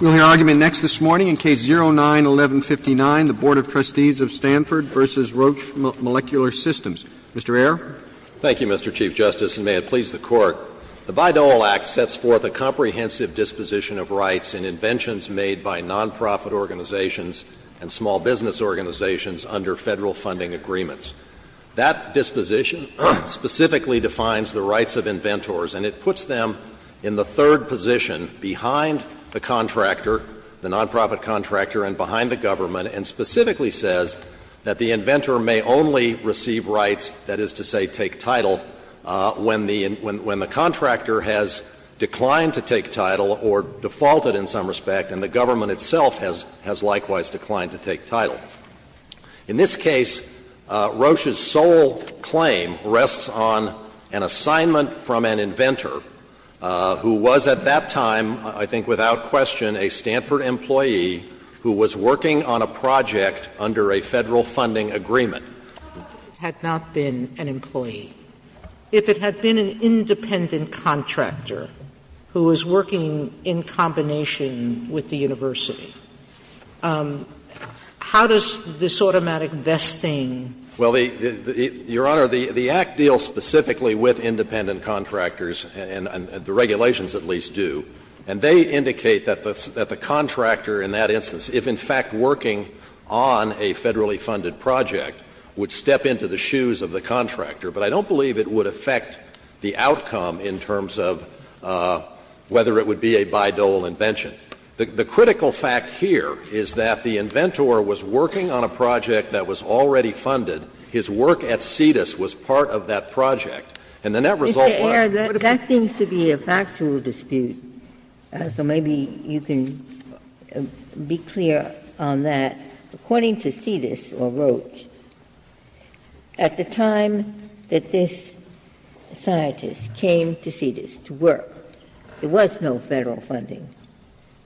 We'll hear argument next this morning in Case 09-1159, the Board of Trustees of Stanford v. Roche Molecular Systems. Mr. Ayer. Thank you, Mr. Chief Justice, and may it please the Court. The Bayh-Dole Act sets forth a comprehensive disposition of rights and inventions made by nonprofit organizations and small business organizations under Federal funding agreements. That disposition specifically defines the rights of inventors, and it puts them in the third position behind the contractor, the nonprofit contractor, and behind the government, and specifically says that the inventor may only receive rights, that is to say, take title, when the contractor has declined to take title or defaulted in some respect, and the government itself has likewise declined to take title. In this case, Roche's sole claim rests on an assignment from an inventor. Who was at that time, I think without question, a Stanford employee who was working on a project under a Federal funding agreement. Had not been an employee. If it had been an independent contractor who was working in combination with the university, how does this automatic vesting? Well, Your Honor, the Act deals specifically with independent contractors, and the regulations at least do, and they indicate that the contractor in that instance, if in fact working on a Federally funded project, would step into the shoes of the contractor, but I don't believe it would affect the outcome in terms of whether it would be a Bayh-Dole invention. The critical fact here is that the inventor was working on a project that was already funded. His work at CITUS was part of that project, and the net result was what if it's not a Bayh-Dole invention? Ginsburg. That seems to be a factual dispute, so maybe you can be clear on that. According to CITUS or Roche, at the time that this scientist came to CITUS to work, there was no Federal funding.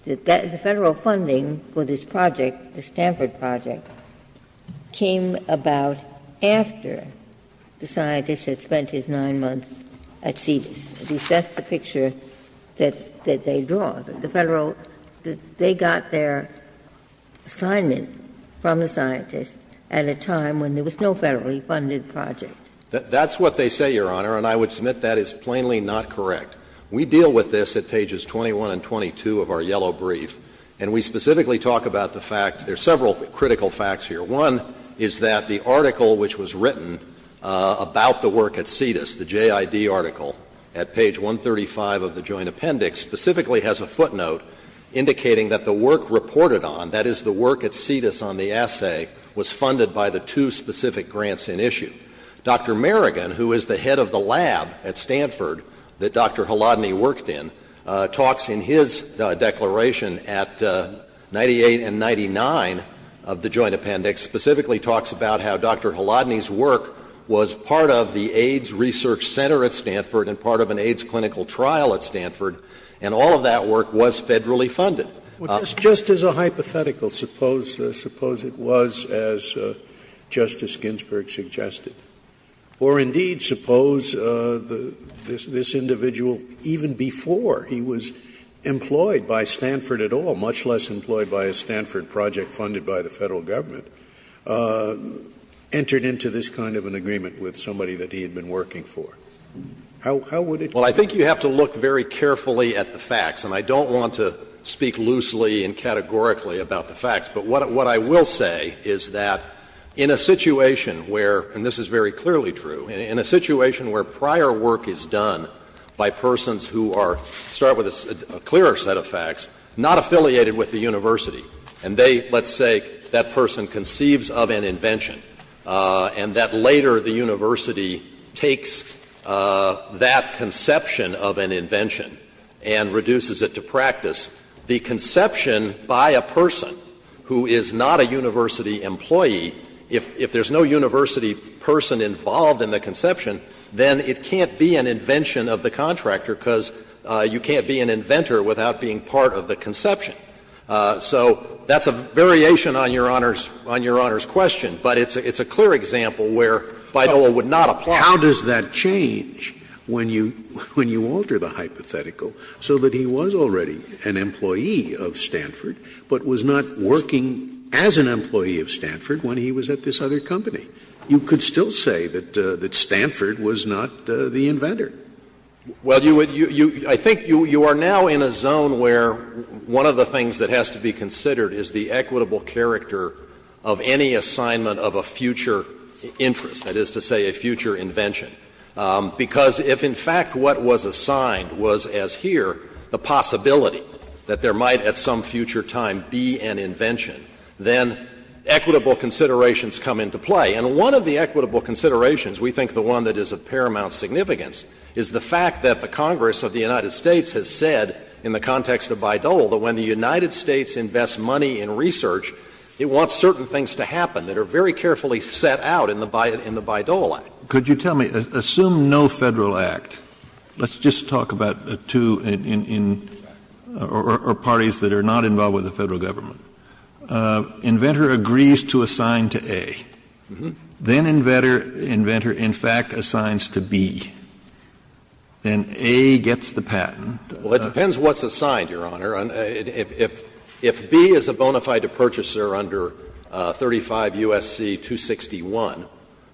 The Federal funding for this project, the Stanford project, came about after the scientist had spent his 9 months at CITUS, at least that's the picture that they draw. The Federal they got their assignment from the scientist at a time when there was no Federally funded project. That's what they say, Your Honor, and I would submit that is plainly not correct. We deal with this at pages 21 and 22 of our yellow brief, and we specifically talk about the fact, there's several critical facts here. One is that the article which was written about the work at CITUS, the JID article, at page 135 of the joint appendix, specifically has a footnote indicating that the work reported on, that is the work at CITUS on the assay, was funded by the two specific grants in issue. Dr. Merrigan, who is the head of the lab at Stanford that Dr. Haladny worked in, talks in his declaration at 98 and 99 of the joint appendix, specifically talks about how Dr. Haladny's work was part of the AIDS research center at Stanford and part of an AIDS clinical trial at Stanford, and all of that work was Federally funded. Scalia. Just as a hypothetical, suppose it was, as Justice Ginsburg suggested, or indeed suppose this individual, even before he was employed by Stanford at all, much less employed by a Stanford project funded by the Federal Government, entered into this kind of an agreement with somebody that he had been working for. How would it work? Well, I would look very carefully at the facts, and I don't want to speak loosely and categorically about the facts. But what I will say is that in a situation where, and this is very clearly true, in a situation where prior work is done by persons who are, to start with, a clearer set of facts, not affiliated with the university, and they, let's say, that person conceives of an invention, and that later the university takes that conception of an invention and reduces it to practice, the conception by a person who is not a university employee, if there's no university person involved in the conception, then it can't be an invention of the contractor because you can't be an inventor without being part of the conception. So that's a variation on Your Honor's question, but it's a clear example where BIDOA would not apply. Scalia. But how does that change when you alter the hypothetical so that he was already an employee of Stanford, but was not working as an employee of Stanford when he was at this other company? You could still say that Stanford was not the inventor. Well, you would — I think you are now in a zone where one of the things that has to be considered is the equitable character of any assignment of a future interest, that is to say a future invention, because if in fact what was assigned was, as here, the possibility that there might at some future time be an invention, then equitable considerations come into play. And one of the equitable considerations, we think the one that is of paramount significance, is the fact that the Congress of the United States has said in the context of Bayh-Dole that when the United States invests money in research, it wants certain things to happen that are very carefully set out in the Bayh-Dole Act. Kennedy. Could you tell me, assume no Federal Act, let's just talk about two in — or parties that are not involved with the Federal Government. Inventor agrees to assign to A, then inventor, in fact, assigns to B, then A gets the patent. Well, it depends what's assigned, Your Honor. If B is a bona fide purchaser under 35 U.S.C. 261,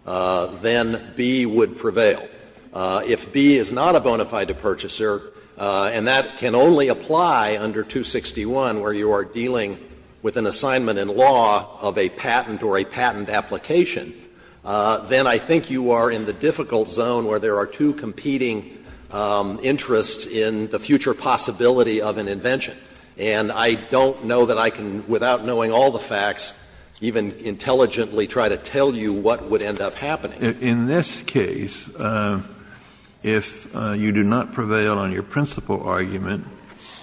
then B would prevail. If B is not a bona fide purchaser, and that can only apply under 261 where you are dealing with an assignment in law of a patent or a patent application, then I think you are in the difficult zone where there are two competing interests in the future possibility of an invention, and I don't know that I can, without knowing all the facts, even intelligently try to tell you what would end up happening. In this case, if you do not prevail on your principal argument,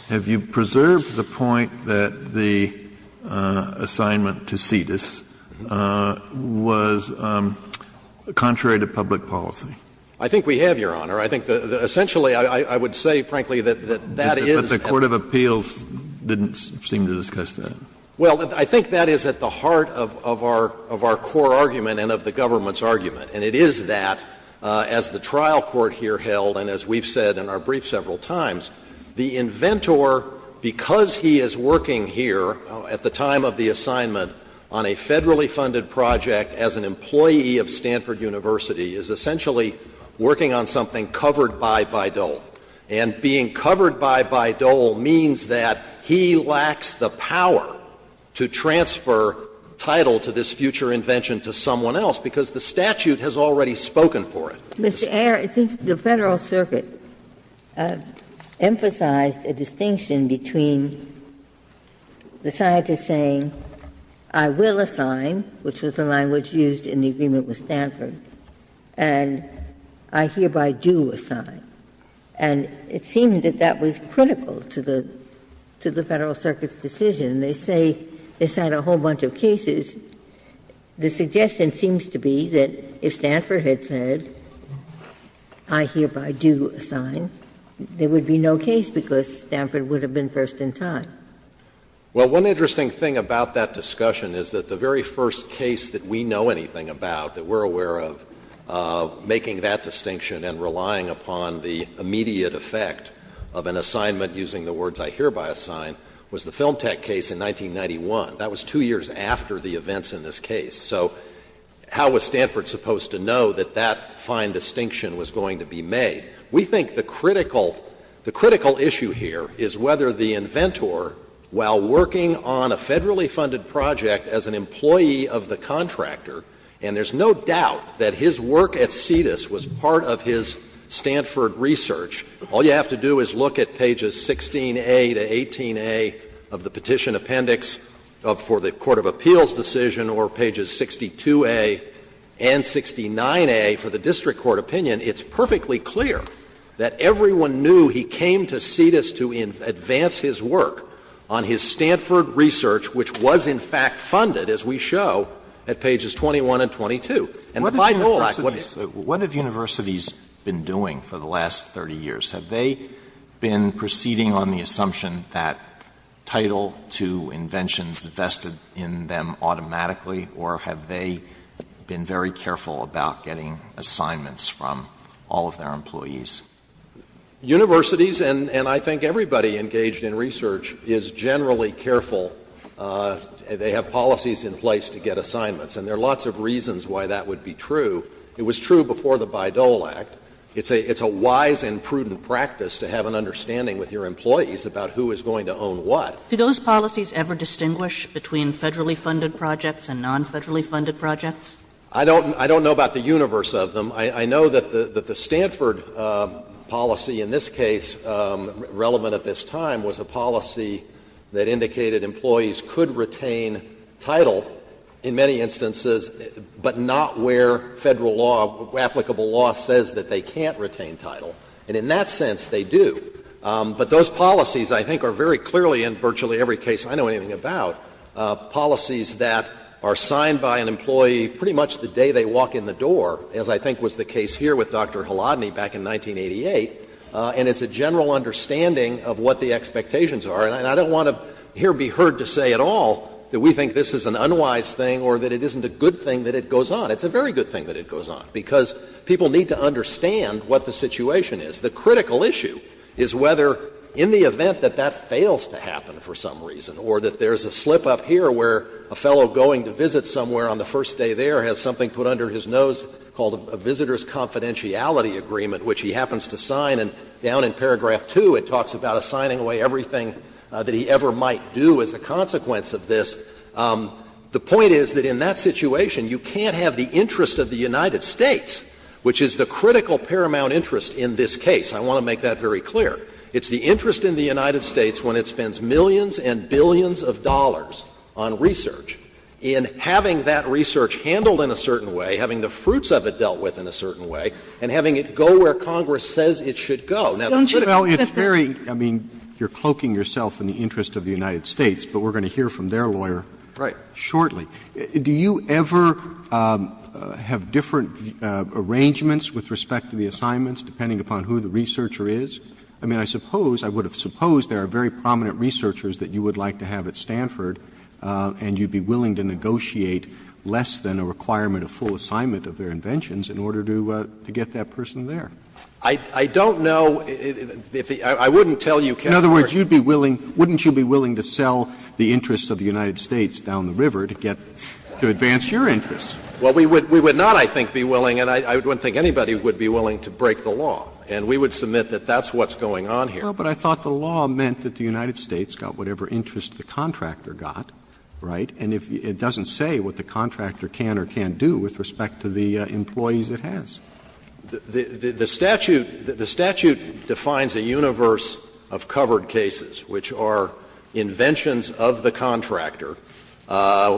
have you preserved the point that the assignment to Cetus was contrary to public policy? I think we have, Your Honor. I think essentially, I would say, frankly, that that is at the heart of our core argument and of the government's argument, and it is that, as the trial court here held and as we've said in our brief several times, the inventor, because he is working here at the time of the assignment on a Federally funded project as an employee of Stanford University, is essentially working on something covered by Bayh-Dole. And being covered by Bayh-Dole means that he lacks the power to transfer title to this future invention to someone else, because the statute has already spoken for it. Ginsburg. Mr. Ayer, I think the Federal Circuit emphasized a distinction between the scientist saying, I will assign, which was the language used in the agreement with Stanford, and I hereby do assign. And it seemed that that was critical to the Federal Circuit's decision. They say this had a whole bunch of cases. The suggestion seems to be that if Stanford had said, I hereby do assign, there would be no case because Stanford would have been first in time. Well, one interesting thing about that discussion is that the very first case that we know anything about, that we're aware of, making that distinction and relying upon the immediate effect of an assignment using the words, I hereby assign, was the Film Tech case in 1991. That was two years after the events in this case. So how was Stanford supposed to know that that fine distinction was going to be made? We think the critical issue here is whether the inventor, while working on a Federally funded project as an employee of the contractor, and there's no doubt that his work at Cetus was part of his Stanford research, all you have to do is look at pages 16a to 18a of the petition appendix for the court of appeals decision or pages 62a and 69a for the district court opinion. It's perfectly clear that everyone knew he came to Cetus to advance his work on his Stanford research, which was, in fact, funded, as we show, at pages 21 and 22. And by the rule of fact, what did he do? Alito What have universities been doing for the last 30 years? Have they been proceeding on the assumption that Title II inventions vested in them automatically, or have they been very careful about getting assignments from all of their employees? Shanmugam Universities, and I think everybody engaged in research, is generally careful. They have policies in place to get assignments. And there are lots of reasons why that would be true. It was true before the Bayh-Dole Act. It's a wise and prudent practice to have an understanding with your employees about who is going to own what. Kagan Do those policies ever distinguish between Federally funded projects and non-Federally funded projects? Shanmugam I don't know about the universe of them. I know that the Stanford policy in this case, relevant at this time, was a policy that indicated employees could retain title in many instances, but not where Federal law, applicable law says that they can't retain title. And in that sense, they do. But those policies, I think, are very clearly, in virtually every case I know anything about, policies that are signed by an employee pretty much the day they walk in the door, as I think was the case here with Dr. Haladny back in 1988. And it's a general understanding of what the expectations are. And I don't want to here be heard to say at all that we think this is an unwise thing or that it isn't a good thing that it goes on. It's a very good thing that it goes on, because people need to understand what the situation is. The critical issue is whether in the event that that fails to happen for some reason or that there's a slip-up here where a fellow going to visit somewhere on the first day there has something put under his nose called a visitor's confidentiality agreement, which he happens to sign, and down in paragraph 2 it talks about assigning away everything that he ever might do as a consequence of this. The point is that in that situation, you can't have the interest of the United States, which is the critical paramount interest in this case. I want to make that very clear. It's the interest in the United States when it spends millions and billions of dollars on research, in having that research handled in a certain way, having the fruits of it dealt with in a certain way, and having it go where Congress says it should go. Now, the critical issue is that it's very, I mean, you're cloaking yourself in the interest of the United States, but we're going to hear from their lawyer shortly. Do you ever have different arrangements with respect to the assignments, depending upon who the researcher is? I mean, I suppose, I would have supposed there are very prominent researchers that you would like to have at Stanford, and you'd be willing to negotiate less than a requirement of full assignment of their inventions in order to get that person there. I don't know if the — I wouldn't tell you, Kennedy. In other words, you'd be willing — wouldn't you be willing to sell the interests of the United States down the river to get — to advance your interests? Well, we would not, I think, be willing, and I don't think anybody would be willing to break the law. And we would submit that that's what's going on here. Well, but I thought the law meant that the United States got whatever interest the contractor got, right? And it doesn't say what the contractor can or can't do with respect to the employees it has. The statute defines a universe of covered cases, which are inventions of the contractor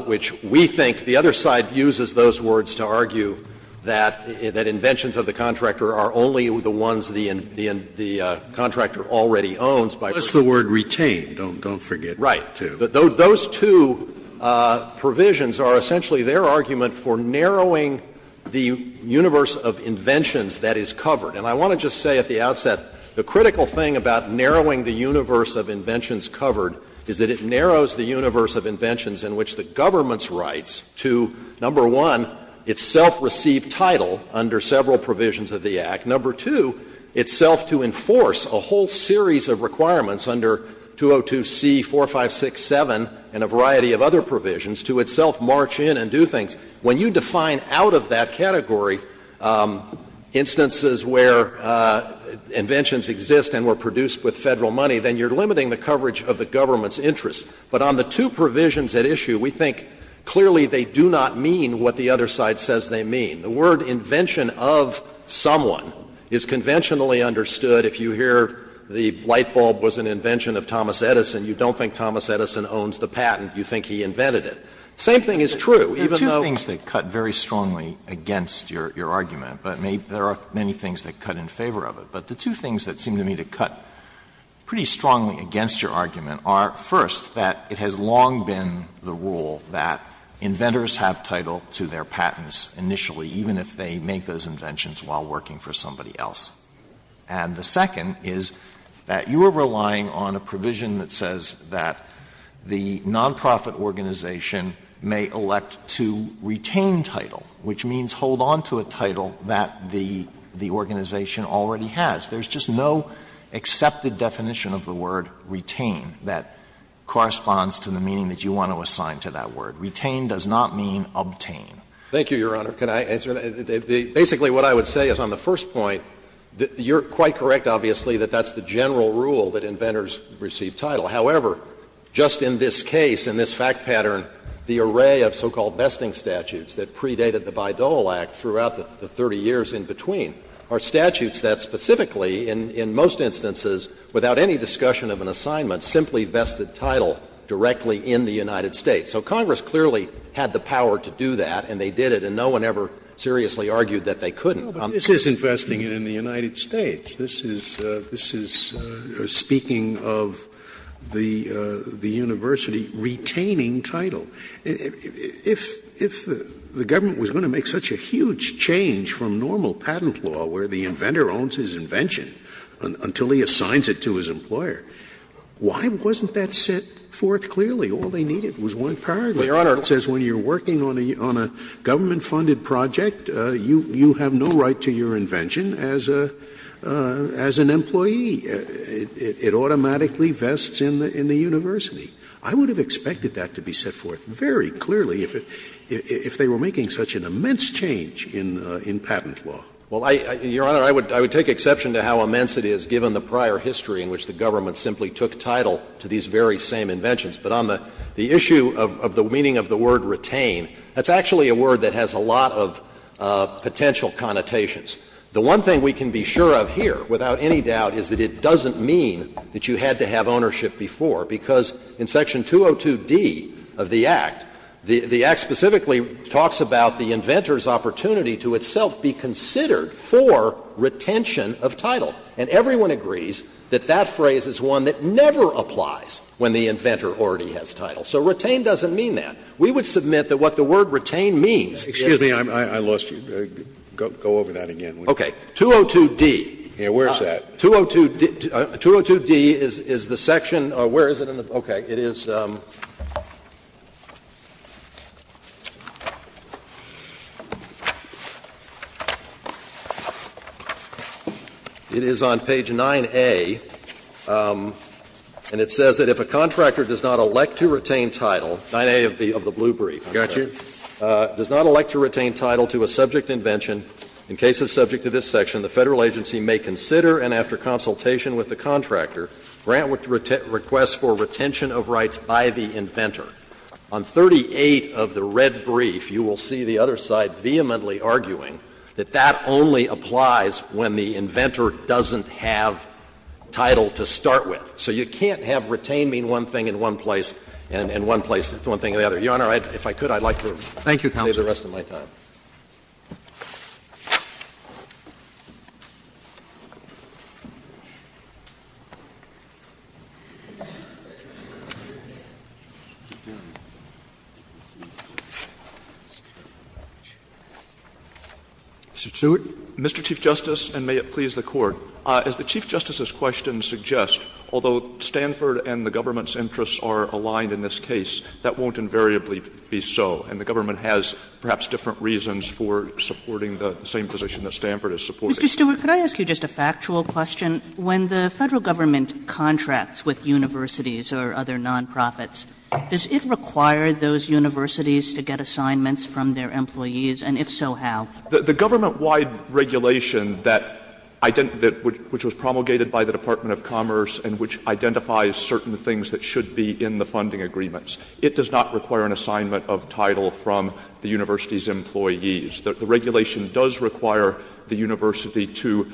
which we think the other side uses those words to argue that inventions of the contractor are only the ones the contractor already owns by virtue of the contract. Unless the word retained, don't forget that, too. Right. Those two provisions are essentially their argument for narrowing the universe of inventions that is covered. And I want to just say at the outset, the critical thing about narrowing the universe of inventions covered is that it narrows the universe of inventions in which the government's rights to, number one, its self-received title under several provisions of the Act, number two, itself to enforce a whole series of requirements under 202C4567 and a variety of other provisions, to itself march in and do things. When you define out of that category instances where inventions exist and were produced with Federal money, then you're limiting the coverage of the government's interests. But on the two provisions at issue, we think clearly they do not mean what the other side says they mean. The word invention of someone is conventionally understood. If you hear the lightbulb was an invention of Thomas Edison, you don't think Thomas Edison owns the patent. You think he invented it. The same thing is true, even though. Alito, there are two things that cut very strongly against your argument, but there are many things that cut in favor of it. But the two things that seem to me to cut pretty strongly against your argument are, first, that it has long been the rule that inventors have title to their patents initially, even if they make those inventions while working for somebody else. And the second is that you are relying on a provision that says that the nonprofit organization may elect to retain title, which means hold on to a title that the organization already has. There's just no accepted definition of the word retain that corresponds to the meaning that you want to assign to that word. Retain does not mean obtain. Thank you, Your Honor. Can I answer that? Basically, what I would say is on the first point, you're quite correct, obviously, that that's the general rule that inventors receive title. However, just in this case, in this fact pattern, the array of so-called vesting statutes that predated the Bayh-Dole Act throughout the 30 years in between are statutes that specifically, in most instances, without any discussion of an assignment, simply vested title directly in the United States. So Congress clearly had the power to do that, and they did it, and no one ever seriously argued that they couldn't. Scalia. But this is investing it in the United States. This is speaking of the university retaining title. If the government was going to make such a huge change from normal patent law, where the inventor owns his invention until he assigns it to his employer, why wasn't that set forth clearly? All they needed was one paragraph that says when you're working on a government-funded project, you have no right to your invention as an employee. It automatically vests in the university. I would have expected that to be set forth very clearly if they were making such an immense change in patent law. Well, Your Honor, I would take exception to how immense it is, given the prior history in which the government simply took title to these very same inventions. But on the issue of the meaning of the word retain, that's actually a word that has a lot of potential connotations. The one thing we can be sure of here, without any doubt, is that it doesn't mean that you had to have ownership before, because in Section 202d of the Act, the Act specifically talks about the inventor's opportunity to itself be considered for retention of title. And everyone agrees that that phrase is one that never applies when the inventor already has title. So retain doesn't mean that. We would submit that what the word retain means is that you have to have ownership before. Scalia. Excuse me. I lost you. Go over that again. Okay. 202d. Yeah. Where is that? 202d is the section or where is it in the book? Okay. It is on page 9A, and it says that if a contractor does not elect to retain title — 9A of the blue brief. Got you. Does not elect to retain title to a subject invention, in cases subject to this section, the Federal agency may consider, and after consultation with the contractor, grant requests for retention of rights by the inventor. On 38 of the red brief, you will see the other side vehemently arguing that that only applies when the inventor doesn't have title to start with. So you can't have retain mean one thing in one place and one place mean one thing in the other. Your Honor, if I could, I would like to save the rest of my time. Thank you, counsel. Mr. Stewart. Mr. Chief Justice, and may it please the Court, as the Chief Justice's question suggests, although Stanford and the government's interests are aligned in this case, that won't invariably be so. And the government has perhaps different reasons for supporting the same position that Stanford is supporting. Kagan. Mr. Stewart, could I ask you just a factual question? When the Federal government contracts with universities or other non-profits, does it require those universities to get assignments from their employees, and if so, how? The government-wide regulation that — which was promulgated by the Department of Commerce and which identifies certain things that should be in the funding agreements, it does not require an assignment of title from the university's employees. The regulation does require the university to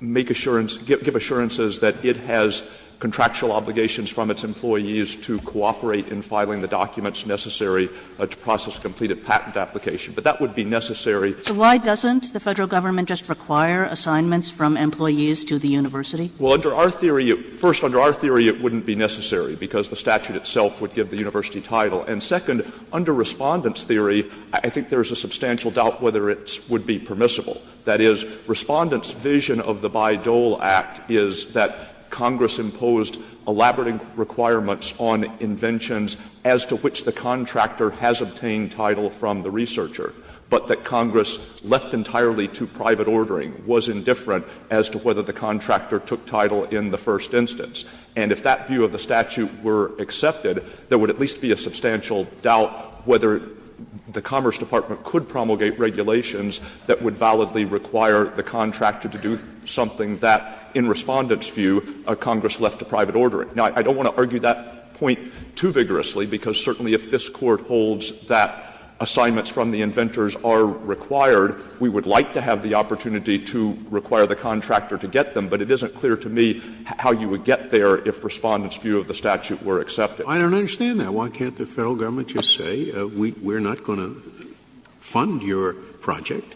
make assurance — give assurances that it has contractual obligations from its employees to cooperate in filing the documents necessary to process a completed patent application. But that would be necessary. So why doesn't the Federal government just require assignments from employees to the university? Well, under our theory — first, under our theory, it wouldn't be necessary, because the statute itself would give the university title. And second, under Respondent's theory, I think there is a substantial doubt whether it would be permissible. That is, Respondent's vision of the Bayh-Dole Act is that Congress imposed elaborate requirements on inventions as to which the contractor has obtained title from the researcher, but that Congress, left entirely to private ordering, was indifferent as to whether the contractor took title in the first instance. And if that view of the statute were accepted, there would at least be a substantial doubt whether the Commerce Department could promulgate regulations that would validly require the contractor to do something that, in Respondent's view, Congress left to private ordering. Now, I don't want to argue that point too vigorously, because certainly if this Court holds that assignments from the inventors are required, we would like to have the opportunity to require the contractor to get them, but it isn't clear to me how you would get there if Respondent's view of the statute were accepted. Scalia. I don't understand that. Why can't the Federal Government just say we are not going to fund your project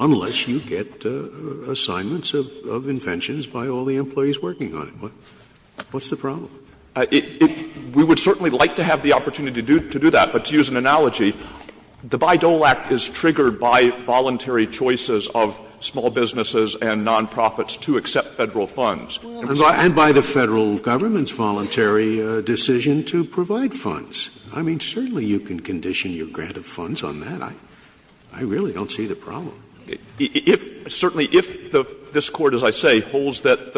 unless you get assignments of inventions by all the employees working on it? What's the problem? We would certainly like to have the opportunity to do that, but to use an analogy, the Bayh-Dole Act is triggered by voluntary choices of small businesses and nonprofits to accept Federal funds. Scalia. And by the Federal Government's voluntary decision to provide funds. I mean, certainly you can condition your grant of funds on that. I really don't see the problem. Stewart. Certainly, if this Court, as I say, holds that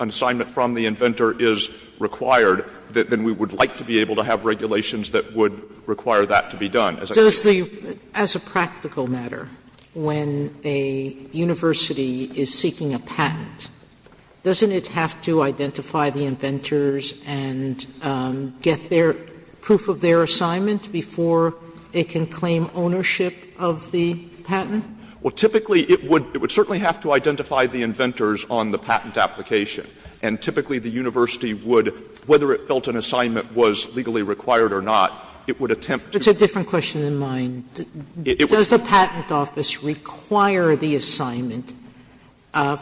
an assignment from the inventor is required, then we would like to be able to have regulations that would require that to be done. Sotomayor. Sotomayor, does the, as a practical matter, when a university is seeking a patent, doesn't it have to identify the inventors and get their, proof of their assignment before it can claim ownership of the patent? Well, typically it would, it would certainly have to identify the inventors on the patent application. And typically the university would, whether it felt an assignment was legally required or not, it would attempt to. Sotomayor, that's a different question than mine. Does the patent office require the assignment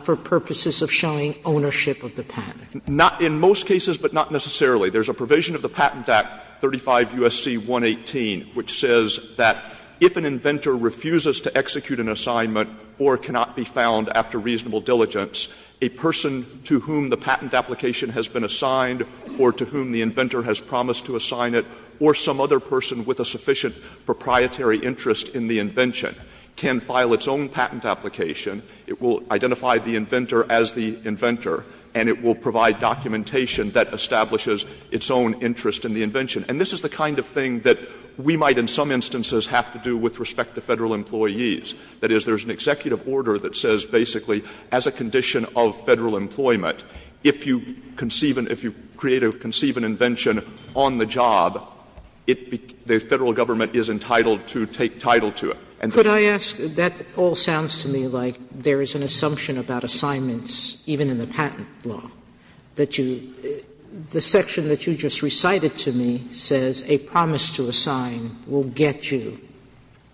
for purposes of showing ownership of the patent? Not in most cases, but not necessarily. There's a provision of the Patent Act, 35 U.S.C. 118, which says that if an inventor refuses to execute an assignment or cannot be found after reasonable diligence, a person to whom the patent application has been assigned or to whom the inventor has promised to assign it, or some other person with a sufficient proprietary interest in the invention, can file its own patent application, it will identify the inventor as the inventor, and it will provide documentation that establishes its own interest in the invention. And this is the kind of thing that we might in some instances have to do with respect to Federal employees. That is, there's an executive order that says basically, as a condition of Federal employment, if an inventor fails to execute an invention on the job, the Federal government is entitled to take title to it. Sotomayor, that all sounds to me like there is an assumption about assignments even in the patent law, that you the section that you just recited to me says a promise to assign will get you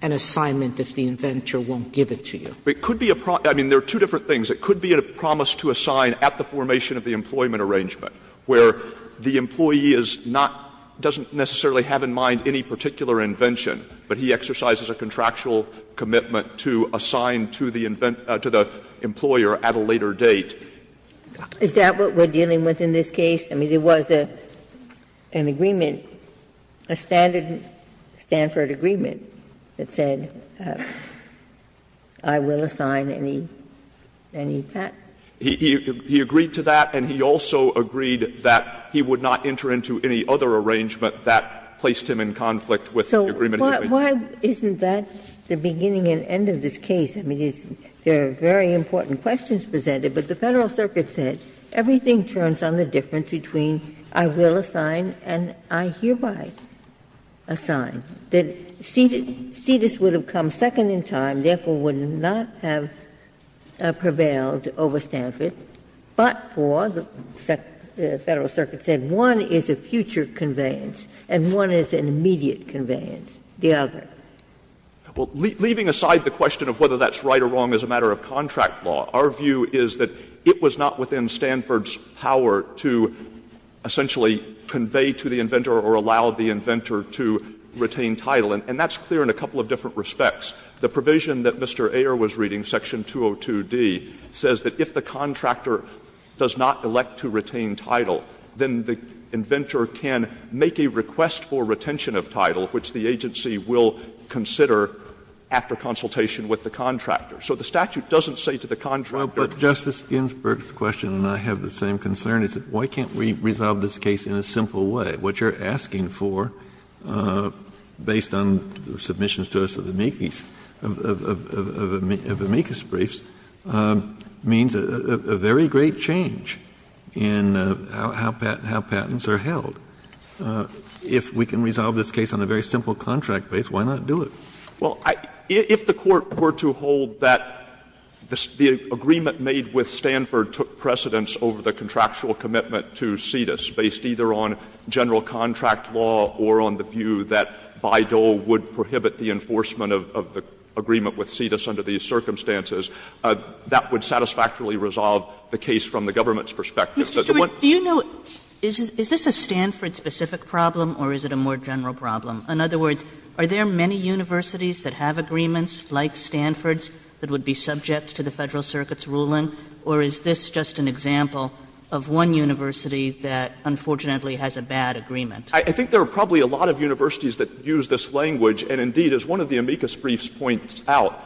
an assignment if the inventor won't give it to you. It could be a promise. I mean, there are two different things. It could be a promise to assign at the formation of the employment arrangement, where the employee is not — doesn't necessarily have in mind any particular invention, but he exercises a contractual commitment to assign to the employer at a later date. Ginsburg. Is that what we're dealing with in this case? I mean, there was an agreement, a standard Stanford agreement that said I will assign any patent. He agreed to that, and he also agreed that he would not enter into any other arrangement that placed him in conflict with the agreement he was making. So why isn't that the beginning and end of this case? I mean, it's — there are very important questions presented, but the Federal Circuit said everything turns on the difference between I will assign and I hereby assign, that Cetus would have come second in time, therefore would not have prevailed over Stanford, but for the Federal Circuit said one is a future conveyance and one is an immediate conveyance, the other. Well, leaving aside the question of whether that's right or wrong as a matter of contract law, our view is that it was not within Stanford's power to essentially convey to the inventor or allow the inventor to retain title, and that's clear in a couple of different respects. The provision that Mr. Ayer was reading, section 202d, says that if the contractor does not elect to retain title, then the inventor can make a request for retention of title, which the agency will consider after consultation with the contractor. So the statute doesn't say to the contractor that the inventor can't retain title. Kennedy, but Justice Ginsburg's question and I have the same concern is why can't we resolve this case in a simple way? What you're asking for, based on the submissions to us of the Mekes, of the Mekes briefs, means a very great change in how patents are held. If we can resolve this case on a very simple contract base, why not do it? Well, if the Court were to hold that the agreement made with Stanford took precedence over the contractual commitment to CITUS, based either on general contract law or on the view that Bayh-Dole would prohibit the enforcement of the agreement with CITUS under these circumstances, that would satisfactorily resolve the case from the government's perspective. But the one thing that's not clear to me is whether this is a Stanford-specific problem or is it a more general problem? In other words, are there many universities that have agreements like Stanford's that would be subject to the Federal Circuit's ruling, or is this just an example of one university that, unfortunately, has a bad agreement? I think there are probably a lot of universities that use this language. And, indeed, as one of the Mekes briefs points out,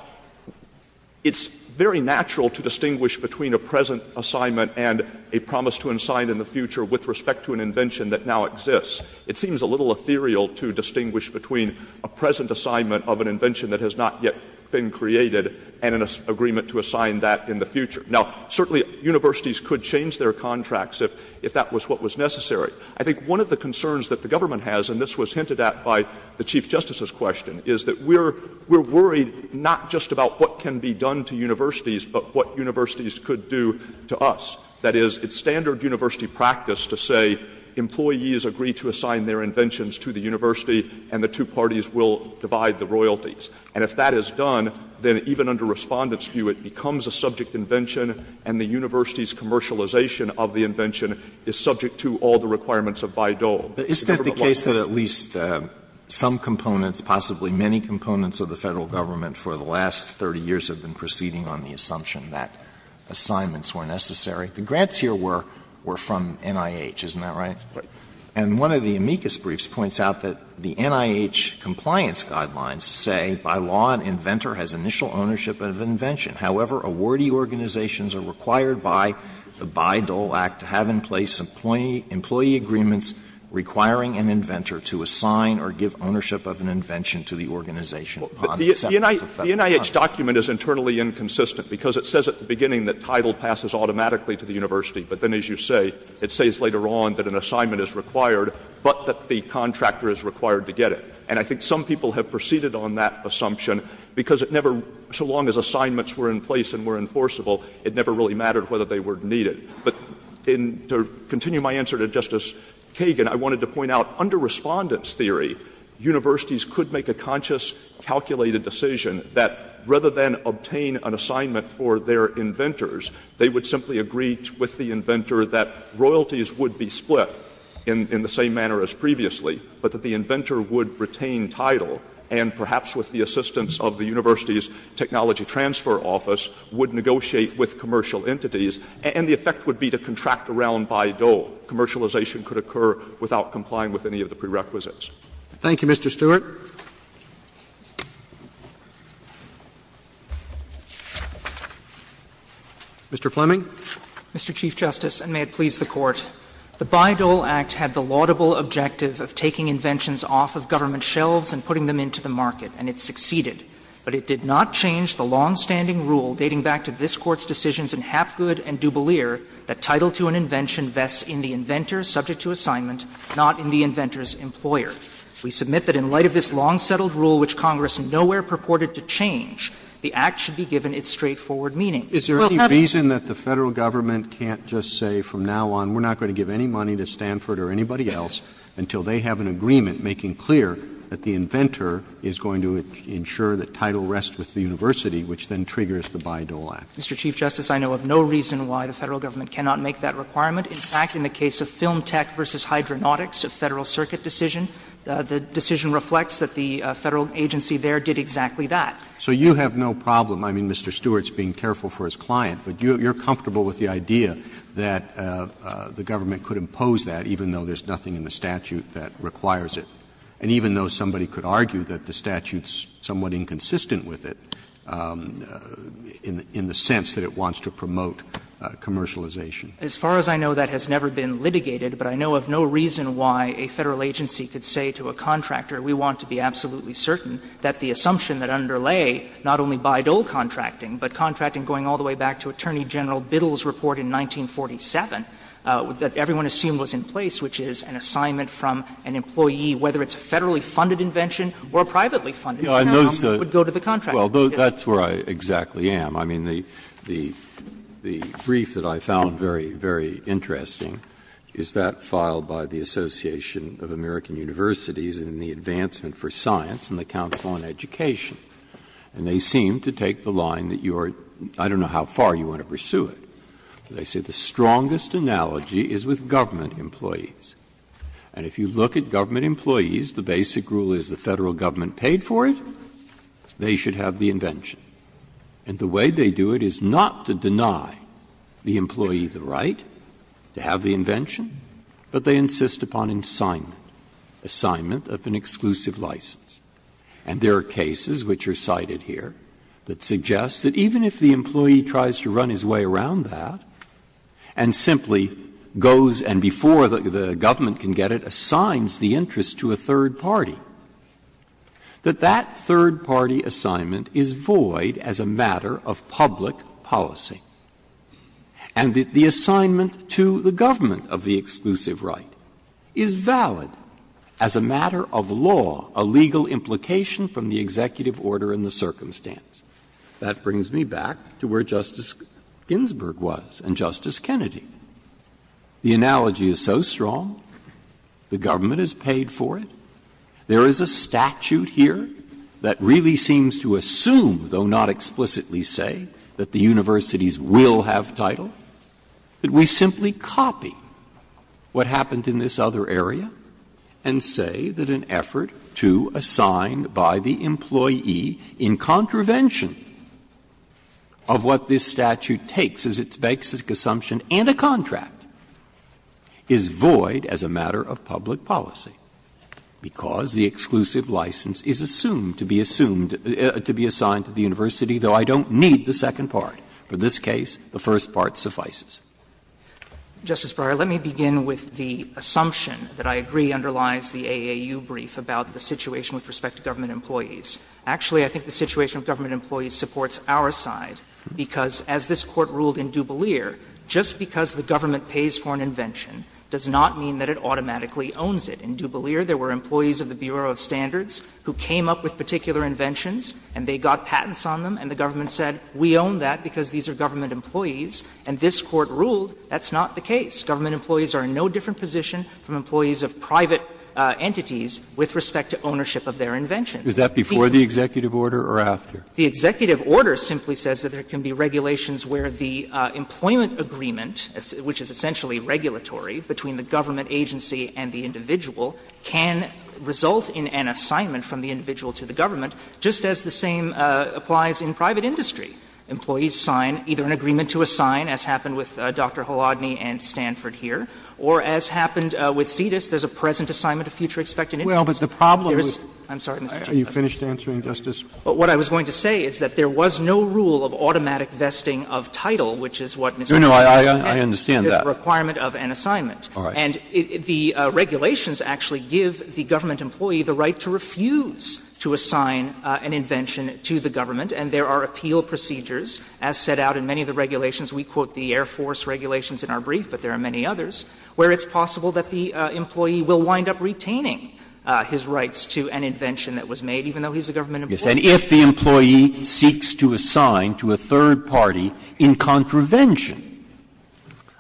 it's very natural to distinguish between a present assignment and a promise to assign in the future with respect to an invention that now exists. It seems a little ethereal to distinguish between a present assignment of an invention that has not yet been created and an agreement to assign that in the future. Now, certainly, universities could change their contracts if that was what was necessary. I think one of the concerns that the government has, and this was hinted at by the Chief Justice's question, is that we're worried not just about what can be done to universities, but what universities could do to us. That is, it's standard university practice to say employees agree to assign their inventions to the university and the two parties will divide the royalties. And if that is done, then even under Respondent's view, it becomes a subject invention and the university's commercialization of the invention is subject to all the requirements of Bayh-Dole. Alito, is that the case that at least some components, possibly many components of the Federal government, for the last 30 years have been proceeding on the assumption that assignments were necessary? The grants here were from NIH, isn't that right? Right. And one of the Amicus briefs points out that the NIH compliance guidelines say, by law, an inventor has initial ownership of an invention. However, awardee organizations are required by the Bayh-Dole Act to have in place employee agreements requiring an inventor to assign or give ownership of an invention to the organization. The NIH document is internally inconsistent, because it says at the beginning that title passes automatically to the university, but then, as you say, it says later on that an assignment is required, but that the contractor is required to get it. And I think some people have proceeded on that assumption, because it never, so long as assignments were in place and were enforceable, it never really mattered whether they were needed. But to continue my answer to Justice Kagan, I wanted to point out, under Respondent's theory, universities could make a conscious, calculated decision that, rather than obtain an assignment for their inventors, they would simply agree with the inventor that royalties would be split in the same manner as previously, but that the inventor would retain title and, perhaps with the assistance of the university's technology transfer office, would negotiate with commercial entities, and the effect would be to contract around Bayh-Dole. Commercialization could occur without complying with any of the prerequisites. Roberts. Roberts. Thank you, Mr. Stewart. Mr. Fleming. Mr. Chief Justice, and may it please the Court. The Bayh-Dole Act had the laudable objective of taking inventions off of government shelves and putting them into the market, and it succeeded. But it did not change the longstanding rule, dating back to this Court's decisions in Hapgood and Du Bois, that title to an invention vests in the inventor subject to assignment, not in the inventor's employer. We submit that in light of this long-settled rule, which Congress nowhere purported to change, the Act should be given its straightforward meaning. Is there any reason that the Federal Government can't just say from now on, we're not going to give any money to Stanford or anybody else until they have an agreement making clear that the inventor is going to ensure that title rests with the university, which then triggers the Bayh-Dole Act? Mr. Chief Justice, I know of no reason why the Federal Government cannot make that requirement. In fact, in the case of Film Tech v. Hydronautics, a Federal Circuit decision, the decision reflects that the Federal agency there did exactly that. So you have no problem. I mean, Mr. Stewart's being careful for his client, but you're comfortable with the idea that the government could impose that even though there's nothing in the statute that requires it, and even though somebody could argue that the statute's somewhat inconsistent with it in the sense that it wants to promote commercialization. As far as I know, that has never been litigated, but I know of no reason why a Federal agency could say to a contractor, we want to be absolutely certain that the assumption that underlay not only Bayh-Dole contracting, but contracting going all the way back to Attorney General Biddle's report in 1947, that everyone assumed was in place, which is an assignment from an employee, whether it's a Federally funded invention or a privately funded one, would go to the contractor. Breyer, Well, that's where I exactly am. I mean, the brief that I found very, very interesting is that filed by the Association of American Universities in the Advancement for Science and the Council on Education and they seem to take the line that you are, I don't know how far you want to pursue it, but they say the strongest analogy is with government employees, and if you look at government employees, the basic rule is the Federal government paid for it, they should have the invention. And the way they do it is not to deny the employee the right to have the invention, but they insist upon assignment, assignment of an exclusive license. And there are cases which are cited here that suggest that even if the employee tries to run his way around that and simply goes and before the government can get it, assigns the interest to a third party, that that third party assignment is void as a matter of public policy, and that the assignment to the government of the exclusive right is valid as a matter of law, a legal implication from the executive order and the circumstance. That brings me back to where Justice Ginsburg was and Justice Kennedy. The analogy is so strong, the government has paid for it. There is a statute here that really seems to assume, though not explicitly say, that the universities will have title, that we simply copy what happened in this other area and say that an effort to assign by the employee in contravention of what this statute takes as its basic assumption and a contract is void as a matter of public policy, because the exclusive license is assumed to be assumed to be assigned to the university, though I don't need the second part. For this case, the first part suffices. Justice Breyer, let me begin with the assumption that I agree underlies the AAU brief about the situation with respect to government employees. Actually, I think the situation of government employees supports our side, because as this Court ruled in DuBolier, just because the government pays for an invention does not mean that it automatically owns it. In DuBolier, there were employees of the Bureau of Standards who came up with particular inventions and they got patents on them, and the government said, we own that because these are government employees, and this Court ruled that's not the case. Government employees are in no different position from employees of private entities with respect to ownership of their inventions. Breyer, is that before the executive order or after? The executive order simply says that there can be regulations where the employment can result in an assignment from the individual to the government, just as the same applies in private industry. Employees sign either an agreement to assign, as happened with Dr. Holodny and Stanford here, or as happened with Cetus, there's a present assignment of future expected interests. I'm sorry, Mr. Chief Justice. What I was going to say is that there was no rule of automatic vesting of title, which is what Mr. Holodny said. There's a requirement of an assignment. And the regulations actually give the government employee the right to refuse to assign an invention to the government, and there are appeal procedures, as set out in many of the regulations. We quote the Air Force regulations in our brief, but there are many others, where it's possible that the employee will wind up retaining his rights to an invention that was made, even though he's a government employee. Breyer, if the employee seeks to assign to a third party in contravention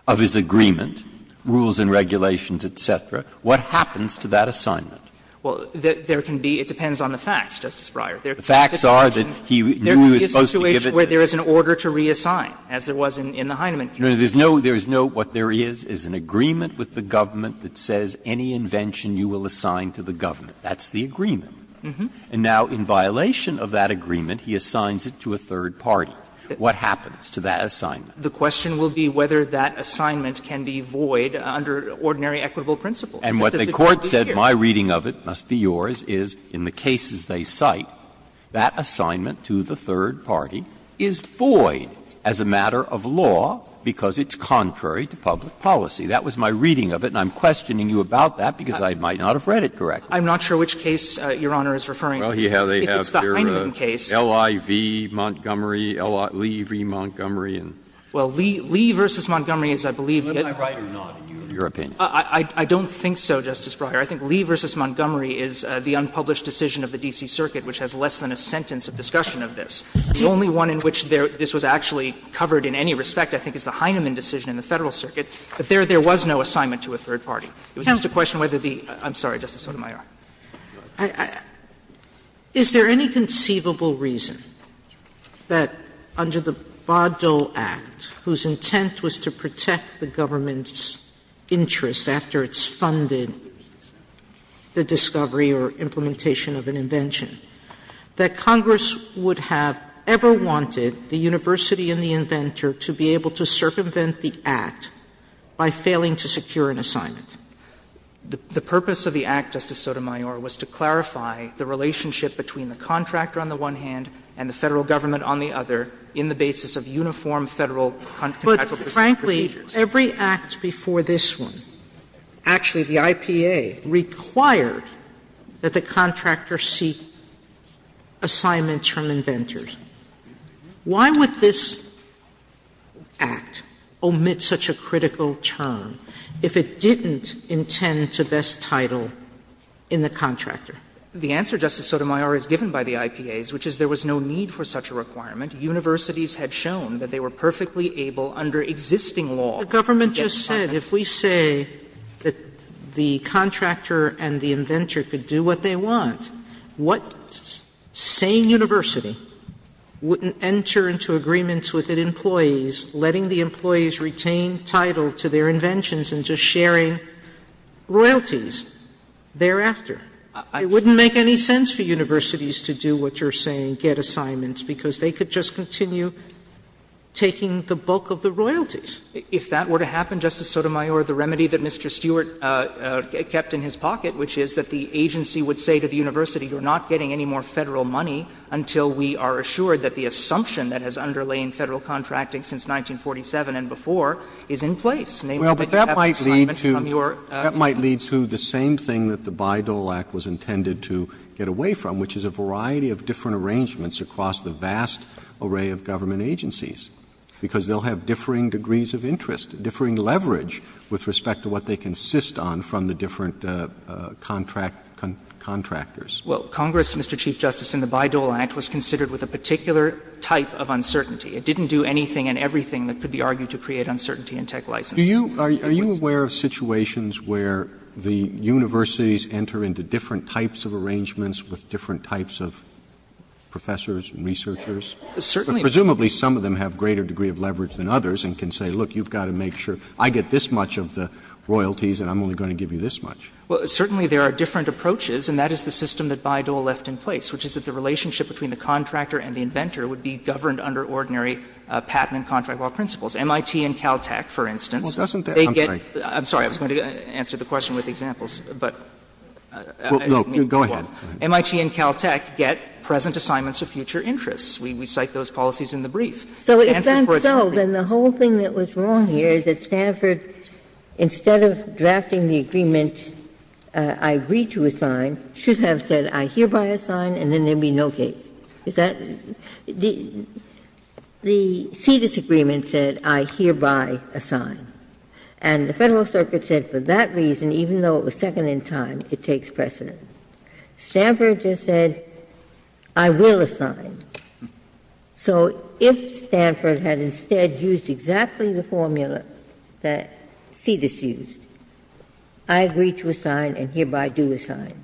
of his agreement, rules and regulations, et cetera, what happens to that assignment? Well, there can be – it depends on the facts, Justice Breyer. The facts are that he knew he was supposed to give it to the government. There is a situation where there is an order to reassign, as there was in the Heineman case. No, there's no – there is no what there is is an agreement with the government that says any invention you will assign to the government. That's the agreement. And now, in violation of that agreement, he assigns it to a third party. What happens to that assignment? The question will be whether that assignment can be void under ordinary equitable principles. And what the Court said, my reading of it, must be yours, is in the cases they cite, that assignment to the third party is void as a matter of law because it's contrary to public policy. That was my reading of it, and I'm questioning you about that because I might not have read it correctly. I'm not sure which case Your Honor is referring to. Well, they have their L.I.V., Montgomery, L.I.V., Montgomery, and so on. Well, L.I.V. versus Montgomery is, I believe – Am I right or not, in your opinion? I don't think so, Justice Breyer. I think L.I.V. versus Montgomery is the unpublished decision of the D.C. Circuit which has less than a sentence of discussion of this. The only one in which this was actually covered in any respect, I think, is the Heineman decision in the Federal Circuit. But there was no assignment to a third party. It was just a question of whether the – I'm sorry, Justice Sotomayor. Is there any conceivable reason that under the Baudot Act, whose intent was to protect the government's interest after it's funded the discovery or implementation of an invention, that Congress would have ever wanted the university and the inventor to be able to circumvent the Act by failing to secure an assignment? The purpose of the Act, Justice Sotomayor, was to clarify the relationship between the contractor on the one hand and the Federal government on the other in the basis of uniform Federal contractual procedures. But, frankly, every Act before this one, actually the IPA, required that the contractor seek assignments from inventors. Why would this Act omit such a critical term? If it didn't intend to vest title in the contractor. The answer, Justice Sotomayor, is given by the IPAs, which is there was no need for such a requirement. Universities had shown that they were perfectly able under existing law to get assignments. Sotomayor, if we say that the contractor and the inventor could do what they want, what sane university wouldn't enter into agreements with its employees, letting the employees retain title to their inventions and just sharing royalties thereafter? It wouldn't make any sense for universities to do what you're saying, get assignments, because they could just continue taking the bulk of the royalties. If that were to happen, Justice Sotomayor, the remedy that Mr. Stewart kept in his pocket, which is that the agency would say to the university, you're not getting any more Federal money until we are assured that the assumption that has underlain Federal contracting since 1947 and before is in place, namely that you have an assignment from your company. Roberts, that might lead to the same thing that the Bayh-Dole Act was intended to get away from, which is a variety of different arrangements across the vast array of government agencies, because they will have differing degrees of interest, differing leverage with respect to what they consist on from the different contractors. Well, Congress, Mr. Chief Justice, in the Bayh-Dole Act was considered with a particular type of uncertainty. It didn't do anything and everything that could be argued to create uncertainty in tech licensing. Roberts, are you aware of situations where the universities enter into different types of arrangements with different types of professors and researchers? Certainly. Presumably some of them have greater degree of leverage than others and can say, look, you've got to make sure I get this much of the royalties and I'm only going to give you this much. Well, certainly there are different approaches, and that is the system that Bayh-Dole left in place, which is that the relationship between the contractor and the inventor would be governed under ordinary patent and contract law principles. MIT and Caltech, for instance, they get the present assignments of future interests. We cite those policies in the brief. So if that's so, then the whole thing that was wrong here is that Stanford, instead of drafting the agreement, I read to assign, should have said, I hereby assign, and then there would be no case. Is that the Cedis agreement said, I hereby assign, and the Federal Circuit said for that reason, even though it was second in time, it takes precedence. Stanford just said, I will assign. So if Stanford had instead used exactly the formula that Cedis used, I agree to assign and hereby do assign,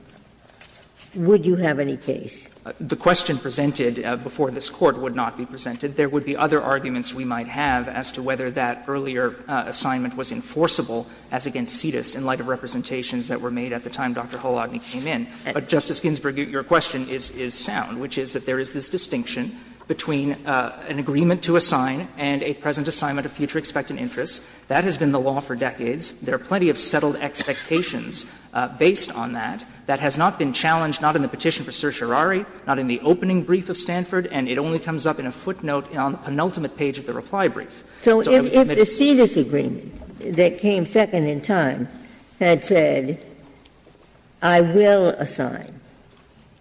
would you have any case? The question presented before this Court would not be presented. There would be other arguments we might have as to whether that earlier assignment was enforceable as against Cedis in light of representations that were made at the time Dr. Hulotny came in. But, Justice Ginsburg, your question is sound, which is that there is this distinction between an agreement to assign and a present assignment of future expectant interests. That has been the law for decades. There are plenty of settled expectations based on that. That has not been challenged, not in the petition for certiorari, not in the opening brief of Stanford, and it only comes up in a footnote on the penultimate page of the reply brief. So if the Cedis agreement that came second in time had said, I will assign,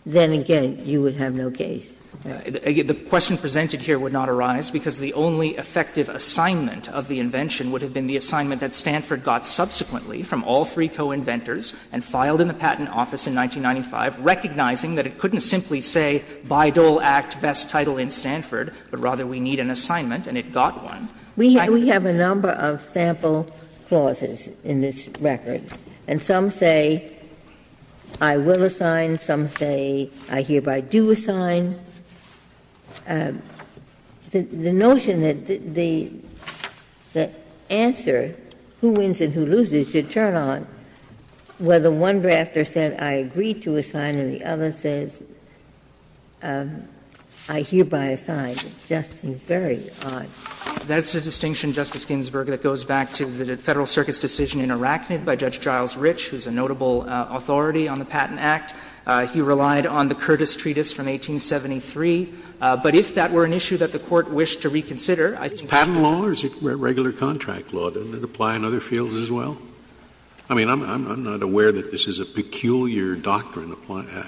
then again you would have no case. The question presented here would not arise, because the only effective assignment of the invention would have been the assignment that Stanford got subsequently from all three co-inventors and filed in the Patent Office in 1995, recognizing that it couldn't simply say, Bayh-Dole Act, best title in Stanford, but rather we need an assignment, and it got one. We have a number of sample clauses in this record, and some say, I will assign. Some say, I hereby do assign. And the notion that the answer, who wins and who loses, should turn on, where the one drafter said, I agree to assign, and the other says, I hereby assign. It just seems very odd. That's a distinction, Justice Ginsburg, that goes back to the Federal Circus decision in Arachnid by Judge Giles Rich, who is a notable authority on the Patent Act. He relied on the Curtis Treatise from 1873. But if that were an issue that the Court wished to reconsider, I think it should be. Scalia Is it patent law or is it regular contract law? Doesn't it apply in other fields as well? I mean, I'm not aware that this is a peculiar doctrine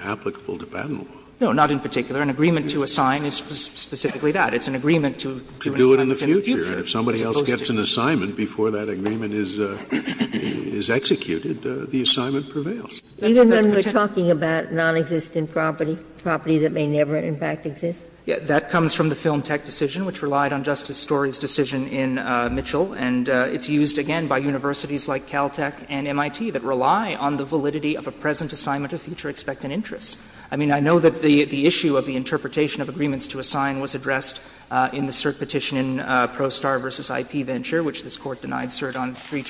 applicable to patent law. Goldenberg No, not in particular. It's an agreement to do an assignment in the future, as opposed to the future. Scalia To do it in the future, and if somebody else gets an assignment before that agreement is executed, the assignment prevails. Ginsburg Even when we're talking about nonexistent property, property that may never in fact exist? Goldenberg That comes from the Film Tech decision, which relied on Justice Story's decision in Mitchell, and it's used again by universities like Caltech and MIT that rely on the validity of a present assignment of future expectant interests. I mean, I know that the issue of the interpretation of agreements to assign was addressed in the cert petition in Prostar v. IP Venture, which this Court denied cert on three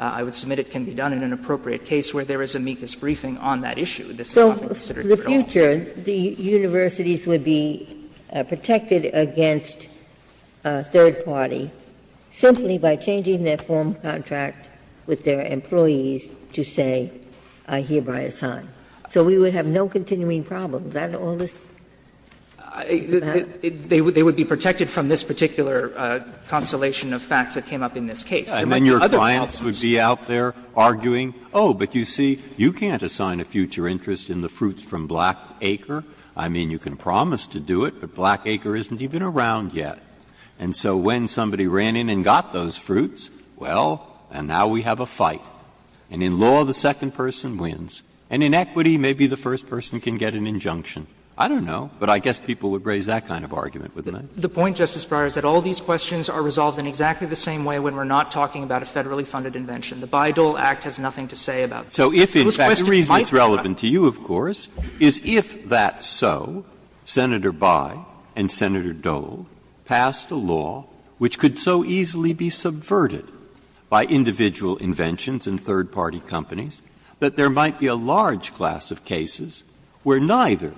I would submit it can be done in an appropriate case where there is amicus briefing on that issue. This is not considered here at all. Ginsburg So for the future, the universities would be protected against a third party simply by changing their form of contract with their employees to say, I hereby assign. So we would have no continuing problems. Isn't all this about? Goldenberg They would be protected from this particular constellation of facts that came up in this case. Breyer And then your clients would be out there arguing, oh, but you see, you can't assign a future interest in the fruits from Black Acre. I mean, you can promise to do it, but Black Acre isn't even around yet. And so when somebody ran in and got those fruits, well, and now we have a fight. And in law, the second person wins. And in equity, maybe the first person can get an injunction. I don't know, but I guess people would raise that kind of argument, wouldn't they? Goldenberg The point, Justice Breyer, is that all these questions are resolved in exactly the same way when we're not talking about a federally funded invention. The Bayh-Dole Act has nothing to say about that. Breyer So if in fact the reason it's relevant to you, of course, is if that's so, Senator Bayh and Senator Dole passed a law which could so easily be subverted by individual inventions and third party companies, that there might be a large class of cases where neither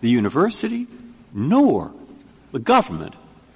the university nor the government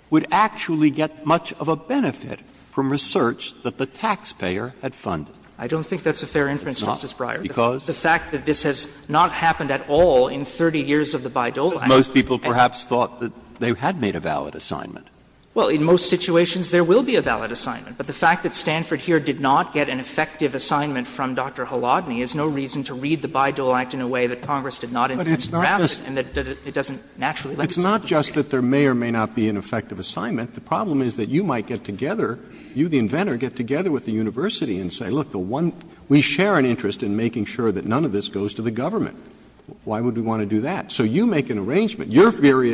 would actually get much of a benefit from research that the taxpayer had funded. Goldenberg I don't think that's a fair inference, Justice Breyer. Breyer Because? Goldenberg The fact that this has not happened at all in 30 years of the Bayh-Dole Act. Breyer Because most people perhaps thought that they had made a valid assignment. Goldenberg Well, in most situations there will be a valid assignment. But the fact that Stanford here did not get an effective assignment from Dr. Halodny is no reason to read the Bayh-Dole Act in a way that Congress did not in the draft and that it doesn't naturally let us. Breyer It's not just that there may or may not be an effective assignment. The problem is that you might get together, you the inventor, get together with the university and say, look, the one we share an interest in making sure that none of this goes to the government. Why would we want to do that? So you make an arrangement. Your theory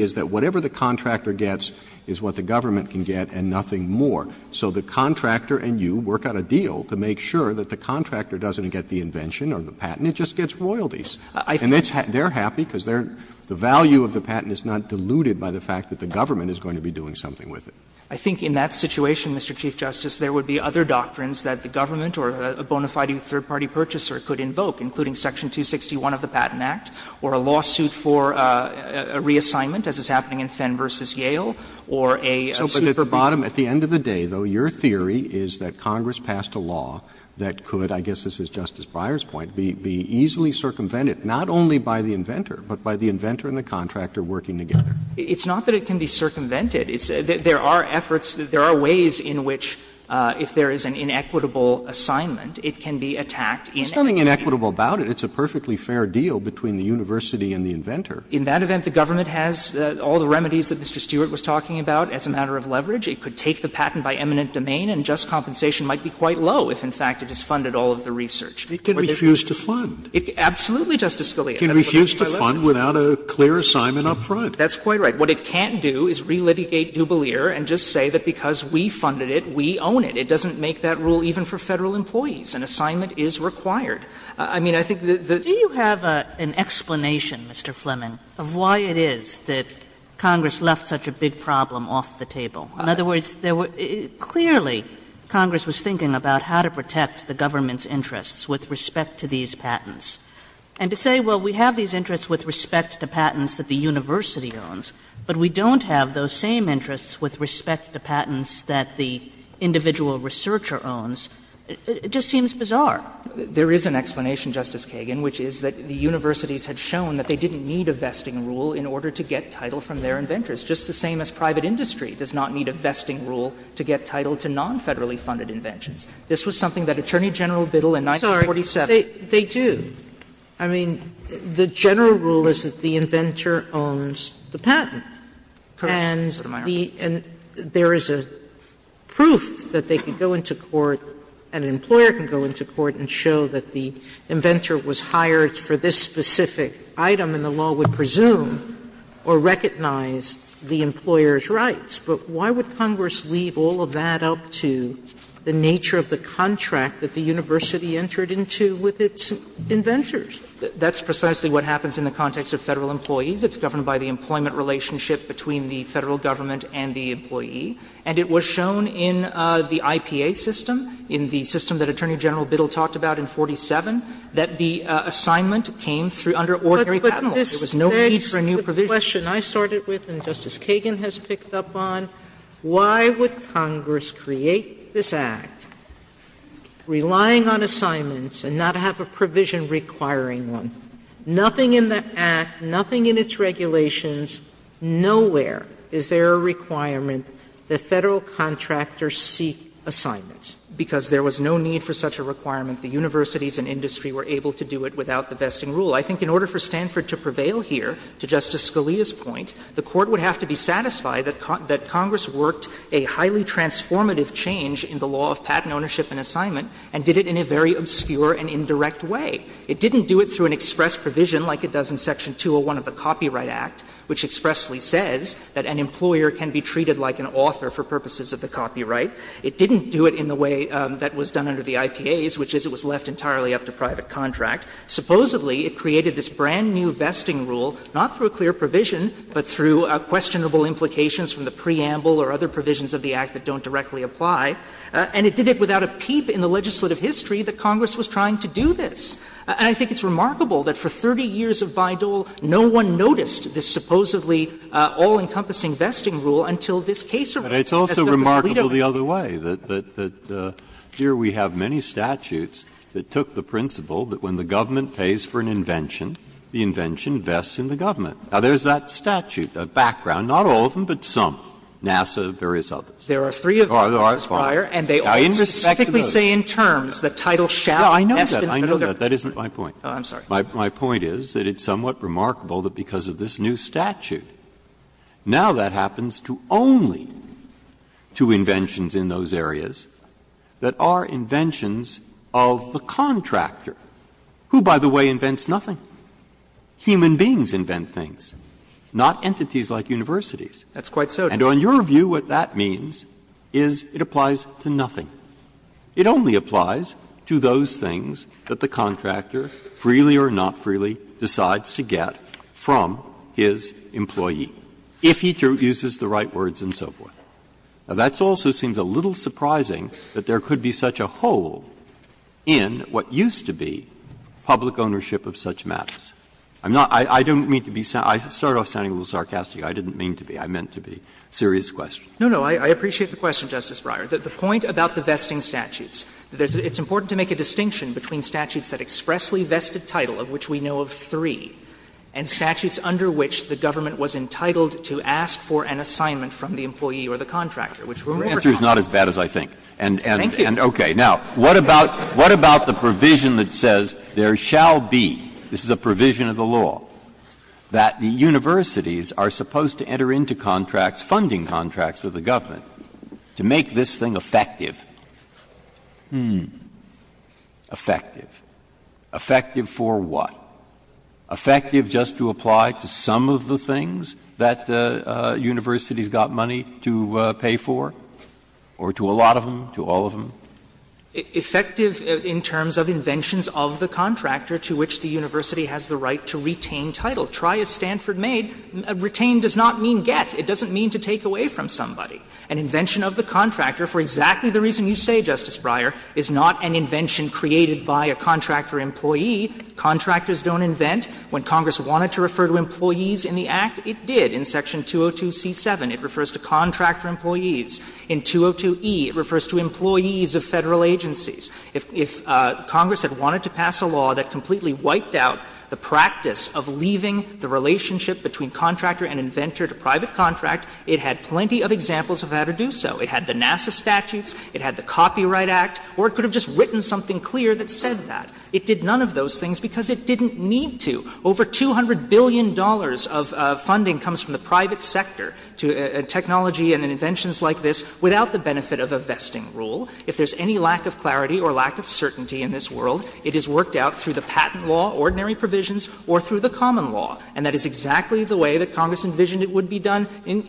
is that whatever the contractor gets is what the government can get and nothing more. So the contractor and you work out a deal to make sure that the contractor doesn't get the invention or the patent. It just gets royalties. And they're happy because the value of the patent is not diluted by the fact that the government is going to be doing something with it. I think in that situation, Mr. Chief Justice, there would be other doctrines that the government or a bona fide third-party purchaser could invoke, including section 261 of the Patent Act or a lawsuit for a reassignment, as is happening in Fenn v. Yale, or a suit for bottom. Roberts So at the end of the day, though, your theory is that Congress passed a law that could, I guess this is Justice Breyer's point, be easily circumvented, not only by the inventor, but by the inventor and the contractor working together. It's not that it can be circumvented. There are efforts, there are ways in which, if there is an inequitable assignment, it can be attacked in any way. It's nothing inequitable about it. It's a perfectly fair deal between the university and the inventor. In that event, the government has all the remedies that Mr. Stewart was talking about as a matter of leverage. It could take the patent by eminent domain and just compensation might be quite low if, in fact, it has funded all of the research. It can refuse to fund. Absolutely, Justice Scalia. It can refuse to fund without a clear assignment up front. That's quite right. What it can't do is relitigate Dubolier and just say that because we funded it, we own it. It doesn't make that rule even for Federal employees. An assignment is required. I mean, I think the the Kagan Do you have an explanation, Mr. Fleming, of why it is that Congress left such a big problem off the table? In other words, there were clearly Congress was thinking about how to protect the government's interests with respect to these patents, and to say, well, we have these interests with respect to patents that the university owns, but we don't have those same interests with respect to patents that the individual researcher owns, it just seems bizarre. There is an explanation, Justice Kagan, which is that the universities had shown that they didn't need a vesting rule in order to get title from their inventors, just the same as private industry does not need a vesting rule to get title to non-Federally funded inventions. This was something that Attorney General Biddle in 1947 I'm sorry, they do. I mean, the general rule is that the inventor owns the patent. And the and there is a proof that they can go into court, an employer can go into court and show that the inventor was hired for this specific item, and the law would presume or recognize the employer's rights. But why would Congress leave all of that up to the nature of the contract that the inventors? That's precisely what happens in the context of Federal employees. It's governed by the employment relationship between the Federal government and the employee. And it was shown in the IPA system, in the system that Attorney General Biddle talked about in 1947, that the assignment came through under ordinary patent laws. There was no need for a new provision. Sotomayor, the question I started with and Justice Kagan has picked up on, why would Congress be requiring one? Nothing in the Act, nothing in its regulations, nowhere is there a requirement that Federal contractors seek assignments, because there was no need for such a requirement. The universities and industry were able to do it without the vesting rule. I think in order for Stanford to prevail here, to Justice Scalia's point, the Court would have to be satisfied that Congress worked a highly transformative change in the law of patent ownership and assignment, and did it in a very obscure and indirect way. It didn't do it through an express provision like it does in Section 201 of the Copyright Act, which expressly says that an employer can be treated like an author for purposes of the copyright. It didn't do it in the way that was done under the IPAs, which is it was left entirely up to private contract. Supposedly, it created this brand-new vesting rule, not through a clear provision, but through questionable implications from the preamble or other provisions of the Act that don't directly apply. And it did it without a peep in the legislative history that Congress was trying to do this. And I think it's remarkable that for 30 years of Bayh-Dole, no one noticed this supposedly all-encompassing vesting rule until this case arose. Breyer. But it's also remarkable the other way, that here we have many statutes that took the principle that when the government pays for an invention, the invention vests in the government. Now, there's that statute, that background, not all of them, but some, NASA, various others. There are three of those, Breyer, and they all specifically say in terms that title shall invest in the middle of the country. Breyer. I know that. I know that. That isn't my point. My point is that it's somewhat remarkable that because of this new statute, now that happens to only two inventions in those areas that are inventions of the contractor, who, by the way, invents nothing. Human beings invent things, not entities like universities. And on your view, what that means is it applies to nothing. It only applies to those things that the contractor, freely or not freely, decides to get from his employee, if he uses the right words and so forth. Now, that also seems a little surprising that there could be such a hole in what used to be public ownership of such matters. I'm not – I don't mean to be – I started off sounding a little sarcastic. I didn't mean to be. I meant to be. Serious question. No, no. I appreciate the question, Justice Breyer. The point about the vesting statutes, it's important to make a distinction between statutes that expressly vested title, of which we know of three, and statutes under which the government was entitled to ask for an assignment from the employee or the contractor, which were more common. The answer is not as bad as I think. Thank you. Okay. Now, what about the provision that says there shall be, this is a provision of the law, that the universities are supposed to enter into contracts, funding contracts with the government, to make this thing effective? Hmm. Effective. Effective for what? Effective just to apply to some of the things that universities got money to pay for, or to a lot of them, to all of them? Effective in terms of inventions of the contractor to which the university has the right to retain title. Try as Stanford made, retain does not mean get. It doesn't mean to take away from somebody. An invention of the contractor, for exactly the reason you say, Justice Breyer, is not an invention created by a contractor employee. Contractors don't invent. When Congress wanted to refer to employees in the Act, it did. In section 202c7, it refers to contractor employees. In 202e, it refers to employees of Federal agencies. If Congress had wanted to pass a law that completely wiped out the practice of leaving the relationship between contractor and inventor to private contract, it had plenty of examples of how to do so. It had the NASA statutes. It had the Copyright Act. Or it could have just written something clear that said that. It did none of those things because it didn't need to. Over $200 billion of funding comes from the private sector to technology and inventions like this without the benefit of a vesting rule. If there's any lack of clarity or lack of certainty in this world, it is worked out through the patent law, ordinary provisions, or through the common law. And that is exactly the way that Congress envisioned it would be done in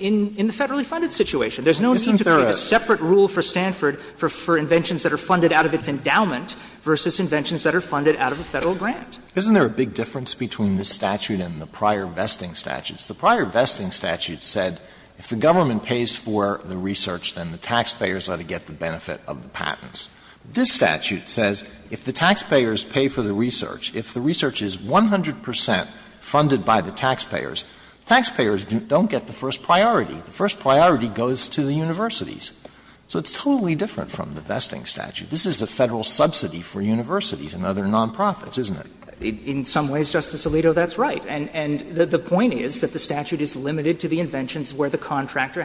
the Federally funded situation. There's no need to create a separate rule for Stanford for inventions that are funded out of its endowment versus inventions that are funded out of a Federal grant. Alitoso, isn't there a big difference between this statute and the prior vesting statutes? The prior vesting statute said if the government pays for the research, then the taxpayers are to get the benefit of the patents. This statute says if the taxpayers pay for the research, if the research is 100 percent funded by the taxpayers, taxpayers don't get the first priority. The first priority goes to the universities. So it's totally different from the vesting statute. This is a Federal subsidy for universities and other non-profits, isn't it? In some ways, Justice Alito, that's right. And the point is that the statute is limited to the inventions where the contractor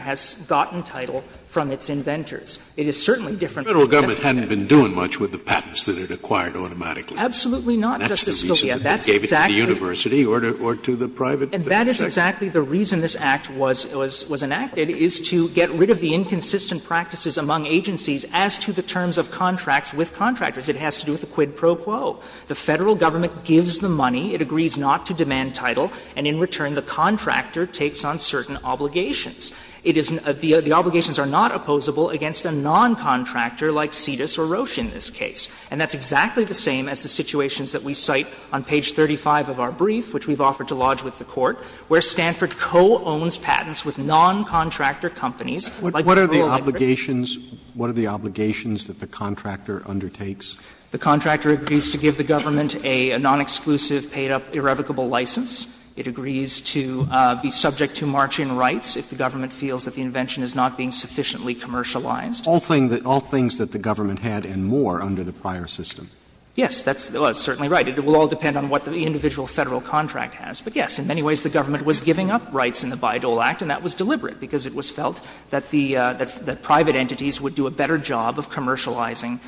It is certainly different from the vesting statute. Scalia, you haven't been doing much with the patents that it acquired automatically. Absolutely not, Justice Scalia. That's the reason that they gave it to the university or to the private sector. And that is exactly the reason this Act was enacted, is to get rid of the inconsistent practices among agencies as to the terms of contracts with contractors. It has to do with the quid pro quo. The Federal government gives the money, it agrees not to demand title, and in return the contractor takes on certain obligations. It is the obligations are not opposable against a non-contractor like Cetus or Roche in this case. And that's exactly the same as the situations that we cite on page 35 of our brief, which we've offered to lodge with the Court, where Stanford co-owns patents with non-contractor companies. What are the obligations, what are the obligations that the contractor undertakes? The contractor agrees to give the government a non-exclusive, paid-up, irrevocable license. It agrees to be subject to march-in rights if the government feels that the invention is not being sufficiently commercialized. Roberts. All things that the government had and more under the prior system. Yes, that's certainly right. It will all depend on what the individual Federal contract has. But, yes, in many ways the government was giving up rights in the Bayh-Dole Act, and that was deliberate, because it was felt that the private entities would do a better job of commercializing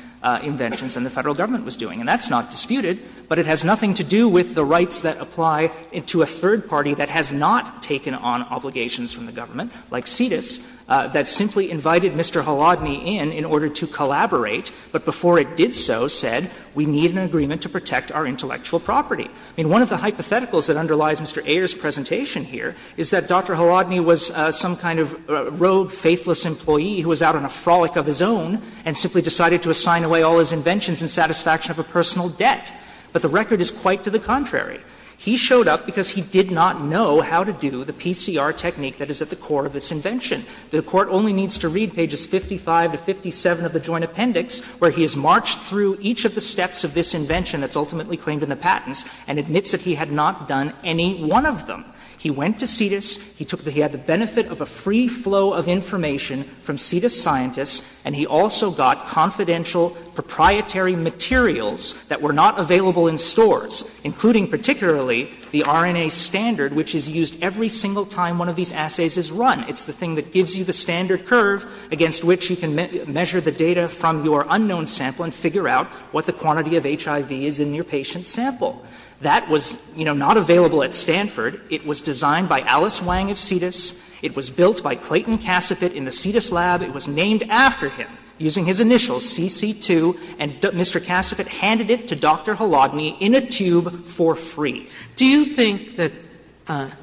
inventions than the Federal government was doing. And that's not disputed, but it has nothing to do with the rights that apply to the third party that has not taken on obligations from the government, like CITIS, that simply invited Mr. Haladny in, in order to collaborate, but before it did so said, we need an agreement to protect our intellectual property. I mean, one of the hypotheticals that underlies Mr. Ayer's presentation here is that Dr. Haladny was some kind of rogue, faithless employee who was out on a frolic of his own and simply decided to assign away all his inventions in satisfaction of a personal debt. But the record is quite to the contrary. He showed up because he did not know how to do the PCR technique that is at the core of this invention. The Court only needs to read pages 55 to 57 of the Joint Appendix, where he has marched through each of the steps of this invention that's ultimately claimed in the patents and admits that he had not done any one of them. He went to CITIS, he took the — he had the benefit of a free flow of information from CITIS scientists, and he also got confidential proprietary materials that were not available in stores, including particularly the RNA standard, which is used every single time one of these assays is run. It's the thing that gives you the standard curve against which you can measure the data from your unknown sample and figure out what the quantity of HIV is in your patient's sample. That was, you know, not available at Stanford. It was designed by Alice Wang of CITIS. It was built by Clayton Cassapit in the CITIS lab. It was named after him using his initials, CC2, and Mr. Cassapit handed it to Dr. Halagny in a tube for free. Sotomayor Do you think that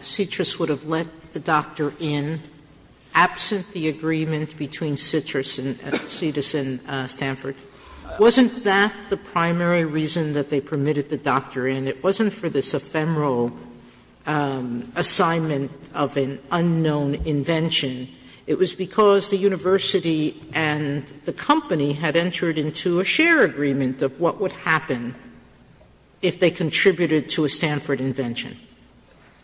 CITIS would have let the doctor in absent the agreement between CITIS and Stanford? Wasn't that the primary reason that they permitted the doctor in? It wasn't for this ephemeral assignment of an unknown invention. It was because the university and the company had entered into a share agreement of what would happen if they contributed to a Stanford invention.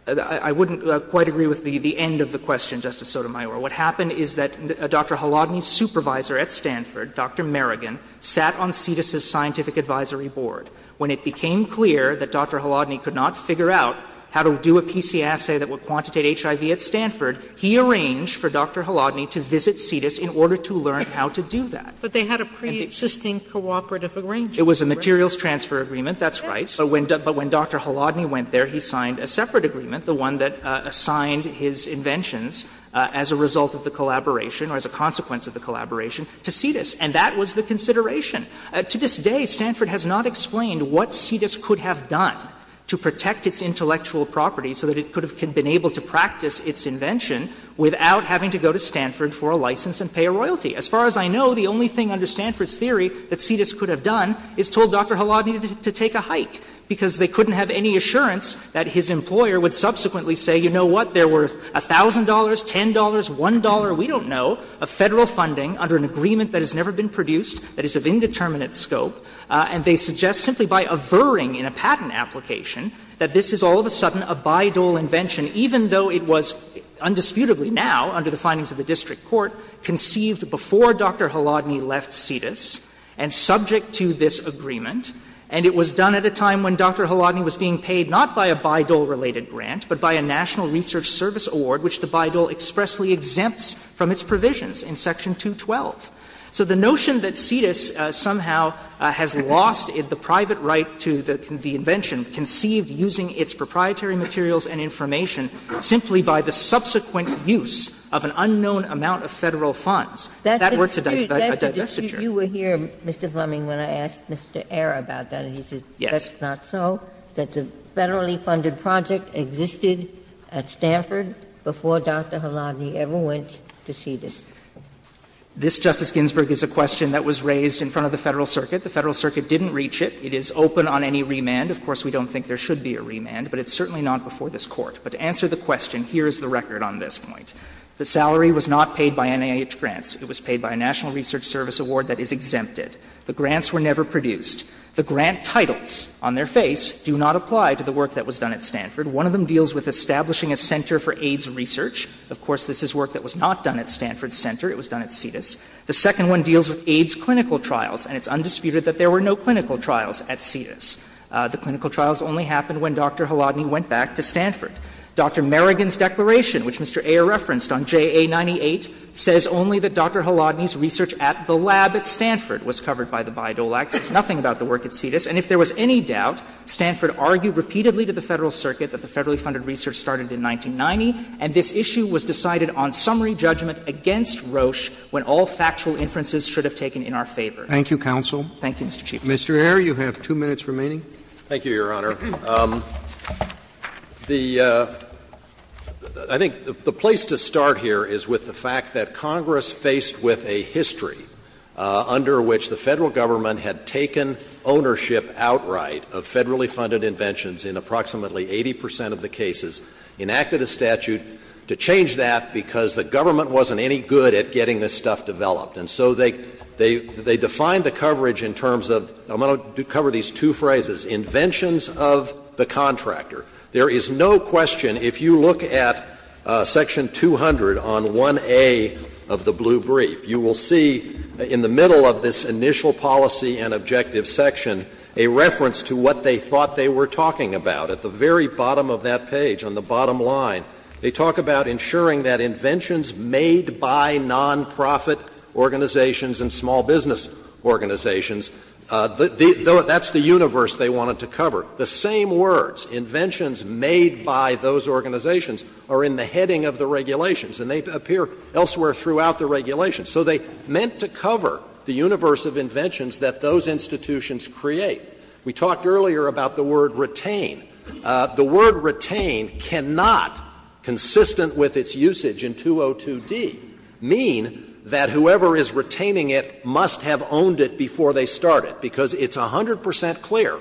I wouldn't quite agree with the end of the question, Justice Sotomayor. What happened is that Dr. Halagny's supervisor at Stanford, Dr. Merrigan, sat on CITIS's scientific advisory board. When it became clear that Dr. Halagny could not figure out how to do a PC assay that would quantitate HIV at Stanford, he arranged for Dr. Halagny to visit CITIS in order to learn how to do that. But they had a pre-existing cooperative arrangement. It was a materials transfer agreement, that's right. But when Dr. Halagny went there, he signed a separate agreement, the one that assigned his inventions as a result of the collaboration or as a consequence of the collaboration to CITIS, and that was the consideration. To this day, Stanford has not explained what CITIS could have done to protect its intellectual property so that it could have been able to practice its invention without having to go to Stanford for a license and pay a royalty. As far as I know, the only thing under Stanford's theory that CITIS could have done is told Dr. Halagny to take a hike, because they couldn't have any assurance that his employer would subsequently say, you know what, there were $1,000, $10, $1, we don't know, of Federal funding under an agreement that has never been produced, that is of indeterminate scope. And they suggest simply by averring in a patent application that this is all of a sudden a Bayh-Dole invention, even though it was undisputably now, under the findings of the district court, conceived before Dr. Halagny left CITIS and subject to this agreement. And it was done at a time when Dr. Halagny was being paid not by a Bayh-Dole related grant, but by a National Research Service award, which the Bayh-Dole expressly exempts from its provisions in section 212. So the notion that CITIS somehow has lost the private right to the invention conceived using its proprietary materials and information simply by the subsequent use of an unknown amount of Federal funds, that works as a digestiture. Ginsburg. You were here, Mr. Fleming, when I asked Mr. Ayer about that, and he said that's not so, that the Federally funded project existed at Stanford before Dr. Halagny ever went to CITIS. This, Justice Ginsburg, is a question that was raised in front of the Federal Circuit. The Federal Circuit didn't reach it. It is open on any remand. Of course, we don't think there should be a remand, but it's certainly not before this Court. But to answer the question, here is the record on this point. The salary was not paid by NIH grants. It was paid by a National Research Service award that is exempted. The grants were never produced. The grant titles on their face do not apply to the work that was done at Stanford. One of them deals with establishing a center for AIDS research. Of course, this is work that was not done at Stanford's center. It was done at CITIS. The second one deals with AIDS clinical trials, and it's undisputed that there were no clinical trials at CITIS. The clinical trials only happened when Dr. Halagny went back to Stanford. Dr. Merrigan's declaration, which Mr. Ayer referenced on JA98, says only that Dr. Halagny's research at the lab at Stanford was covered by the Bayh-Dolaks. It's nothing about the work at CITIS. And if there was any doubt, Stanford argued repeatedly to the Federal Circuit that the federally funded research started in 1990, and this issue was decided on summary judgment against Roche when all factual inferences should have taken in our favor. Roberts. Thank you, counsel. Thank you, Mr. Chief Justice. Mr. Ayer, you have two minutes remaining. Thank you, Your Honor. The — I think the place to start here is with the fact that Congress faced with a history under which the Federal Government had taken ownership outright of federally funded inventions in approximately 80 percent of the cases, enacted a statute to change that because the government wasn't any good at getting this stuff developed. And so they defined the coverage in terms of — I'm going to cover these two phrases — inventions of the contractor. There is no question, if you look at section 200 on 1A of the blue brief, you will see in the middle of this initial policy and objective section a reference to what they thought they were talking about. At the very bottom of that page, on the bottom line, they talk about ensuring that inventions made by nonprofit organizations and small business organizations — that's the universe they wanted to cover. The same words, inventions made by those organizations, are in the heading of the regulations and they appear elsewhere throughout the regulations. So they meant to cover the universe of inventions that those institutions create. We talked earlier about the word retain. The word retain cannot, consistent with its usage in 202d, mean that whoever is retaining it must have owned it before they started, because it's 100 percent clear,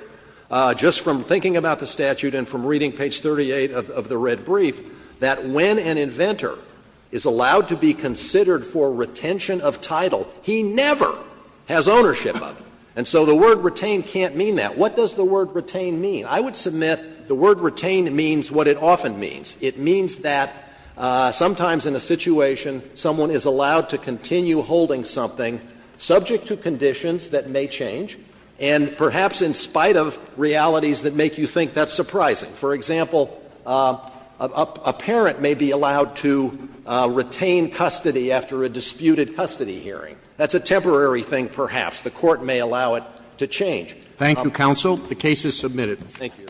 just from thinking about the statute and from reading page 38 of the red brief, that when an inventor is allowed to be considered for retention of title, he never has ownership of it. And so the word retain can't mean that. What does the word retain mean? I would submit the word retain means what it often means. It means that sometimes in a situation, someone is allowed to continue holding something subject to conditions that may change, and perhaps in spite of realities that make you think that's surprising. For example, a parent may be allowed to retain custody after a disputed custody hearing. That's a temporary thing, perhaps. The Court may allow it to change. Roberts. Thank you, counsel. The case is submitted. Thank you.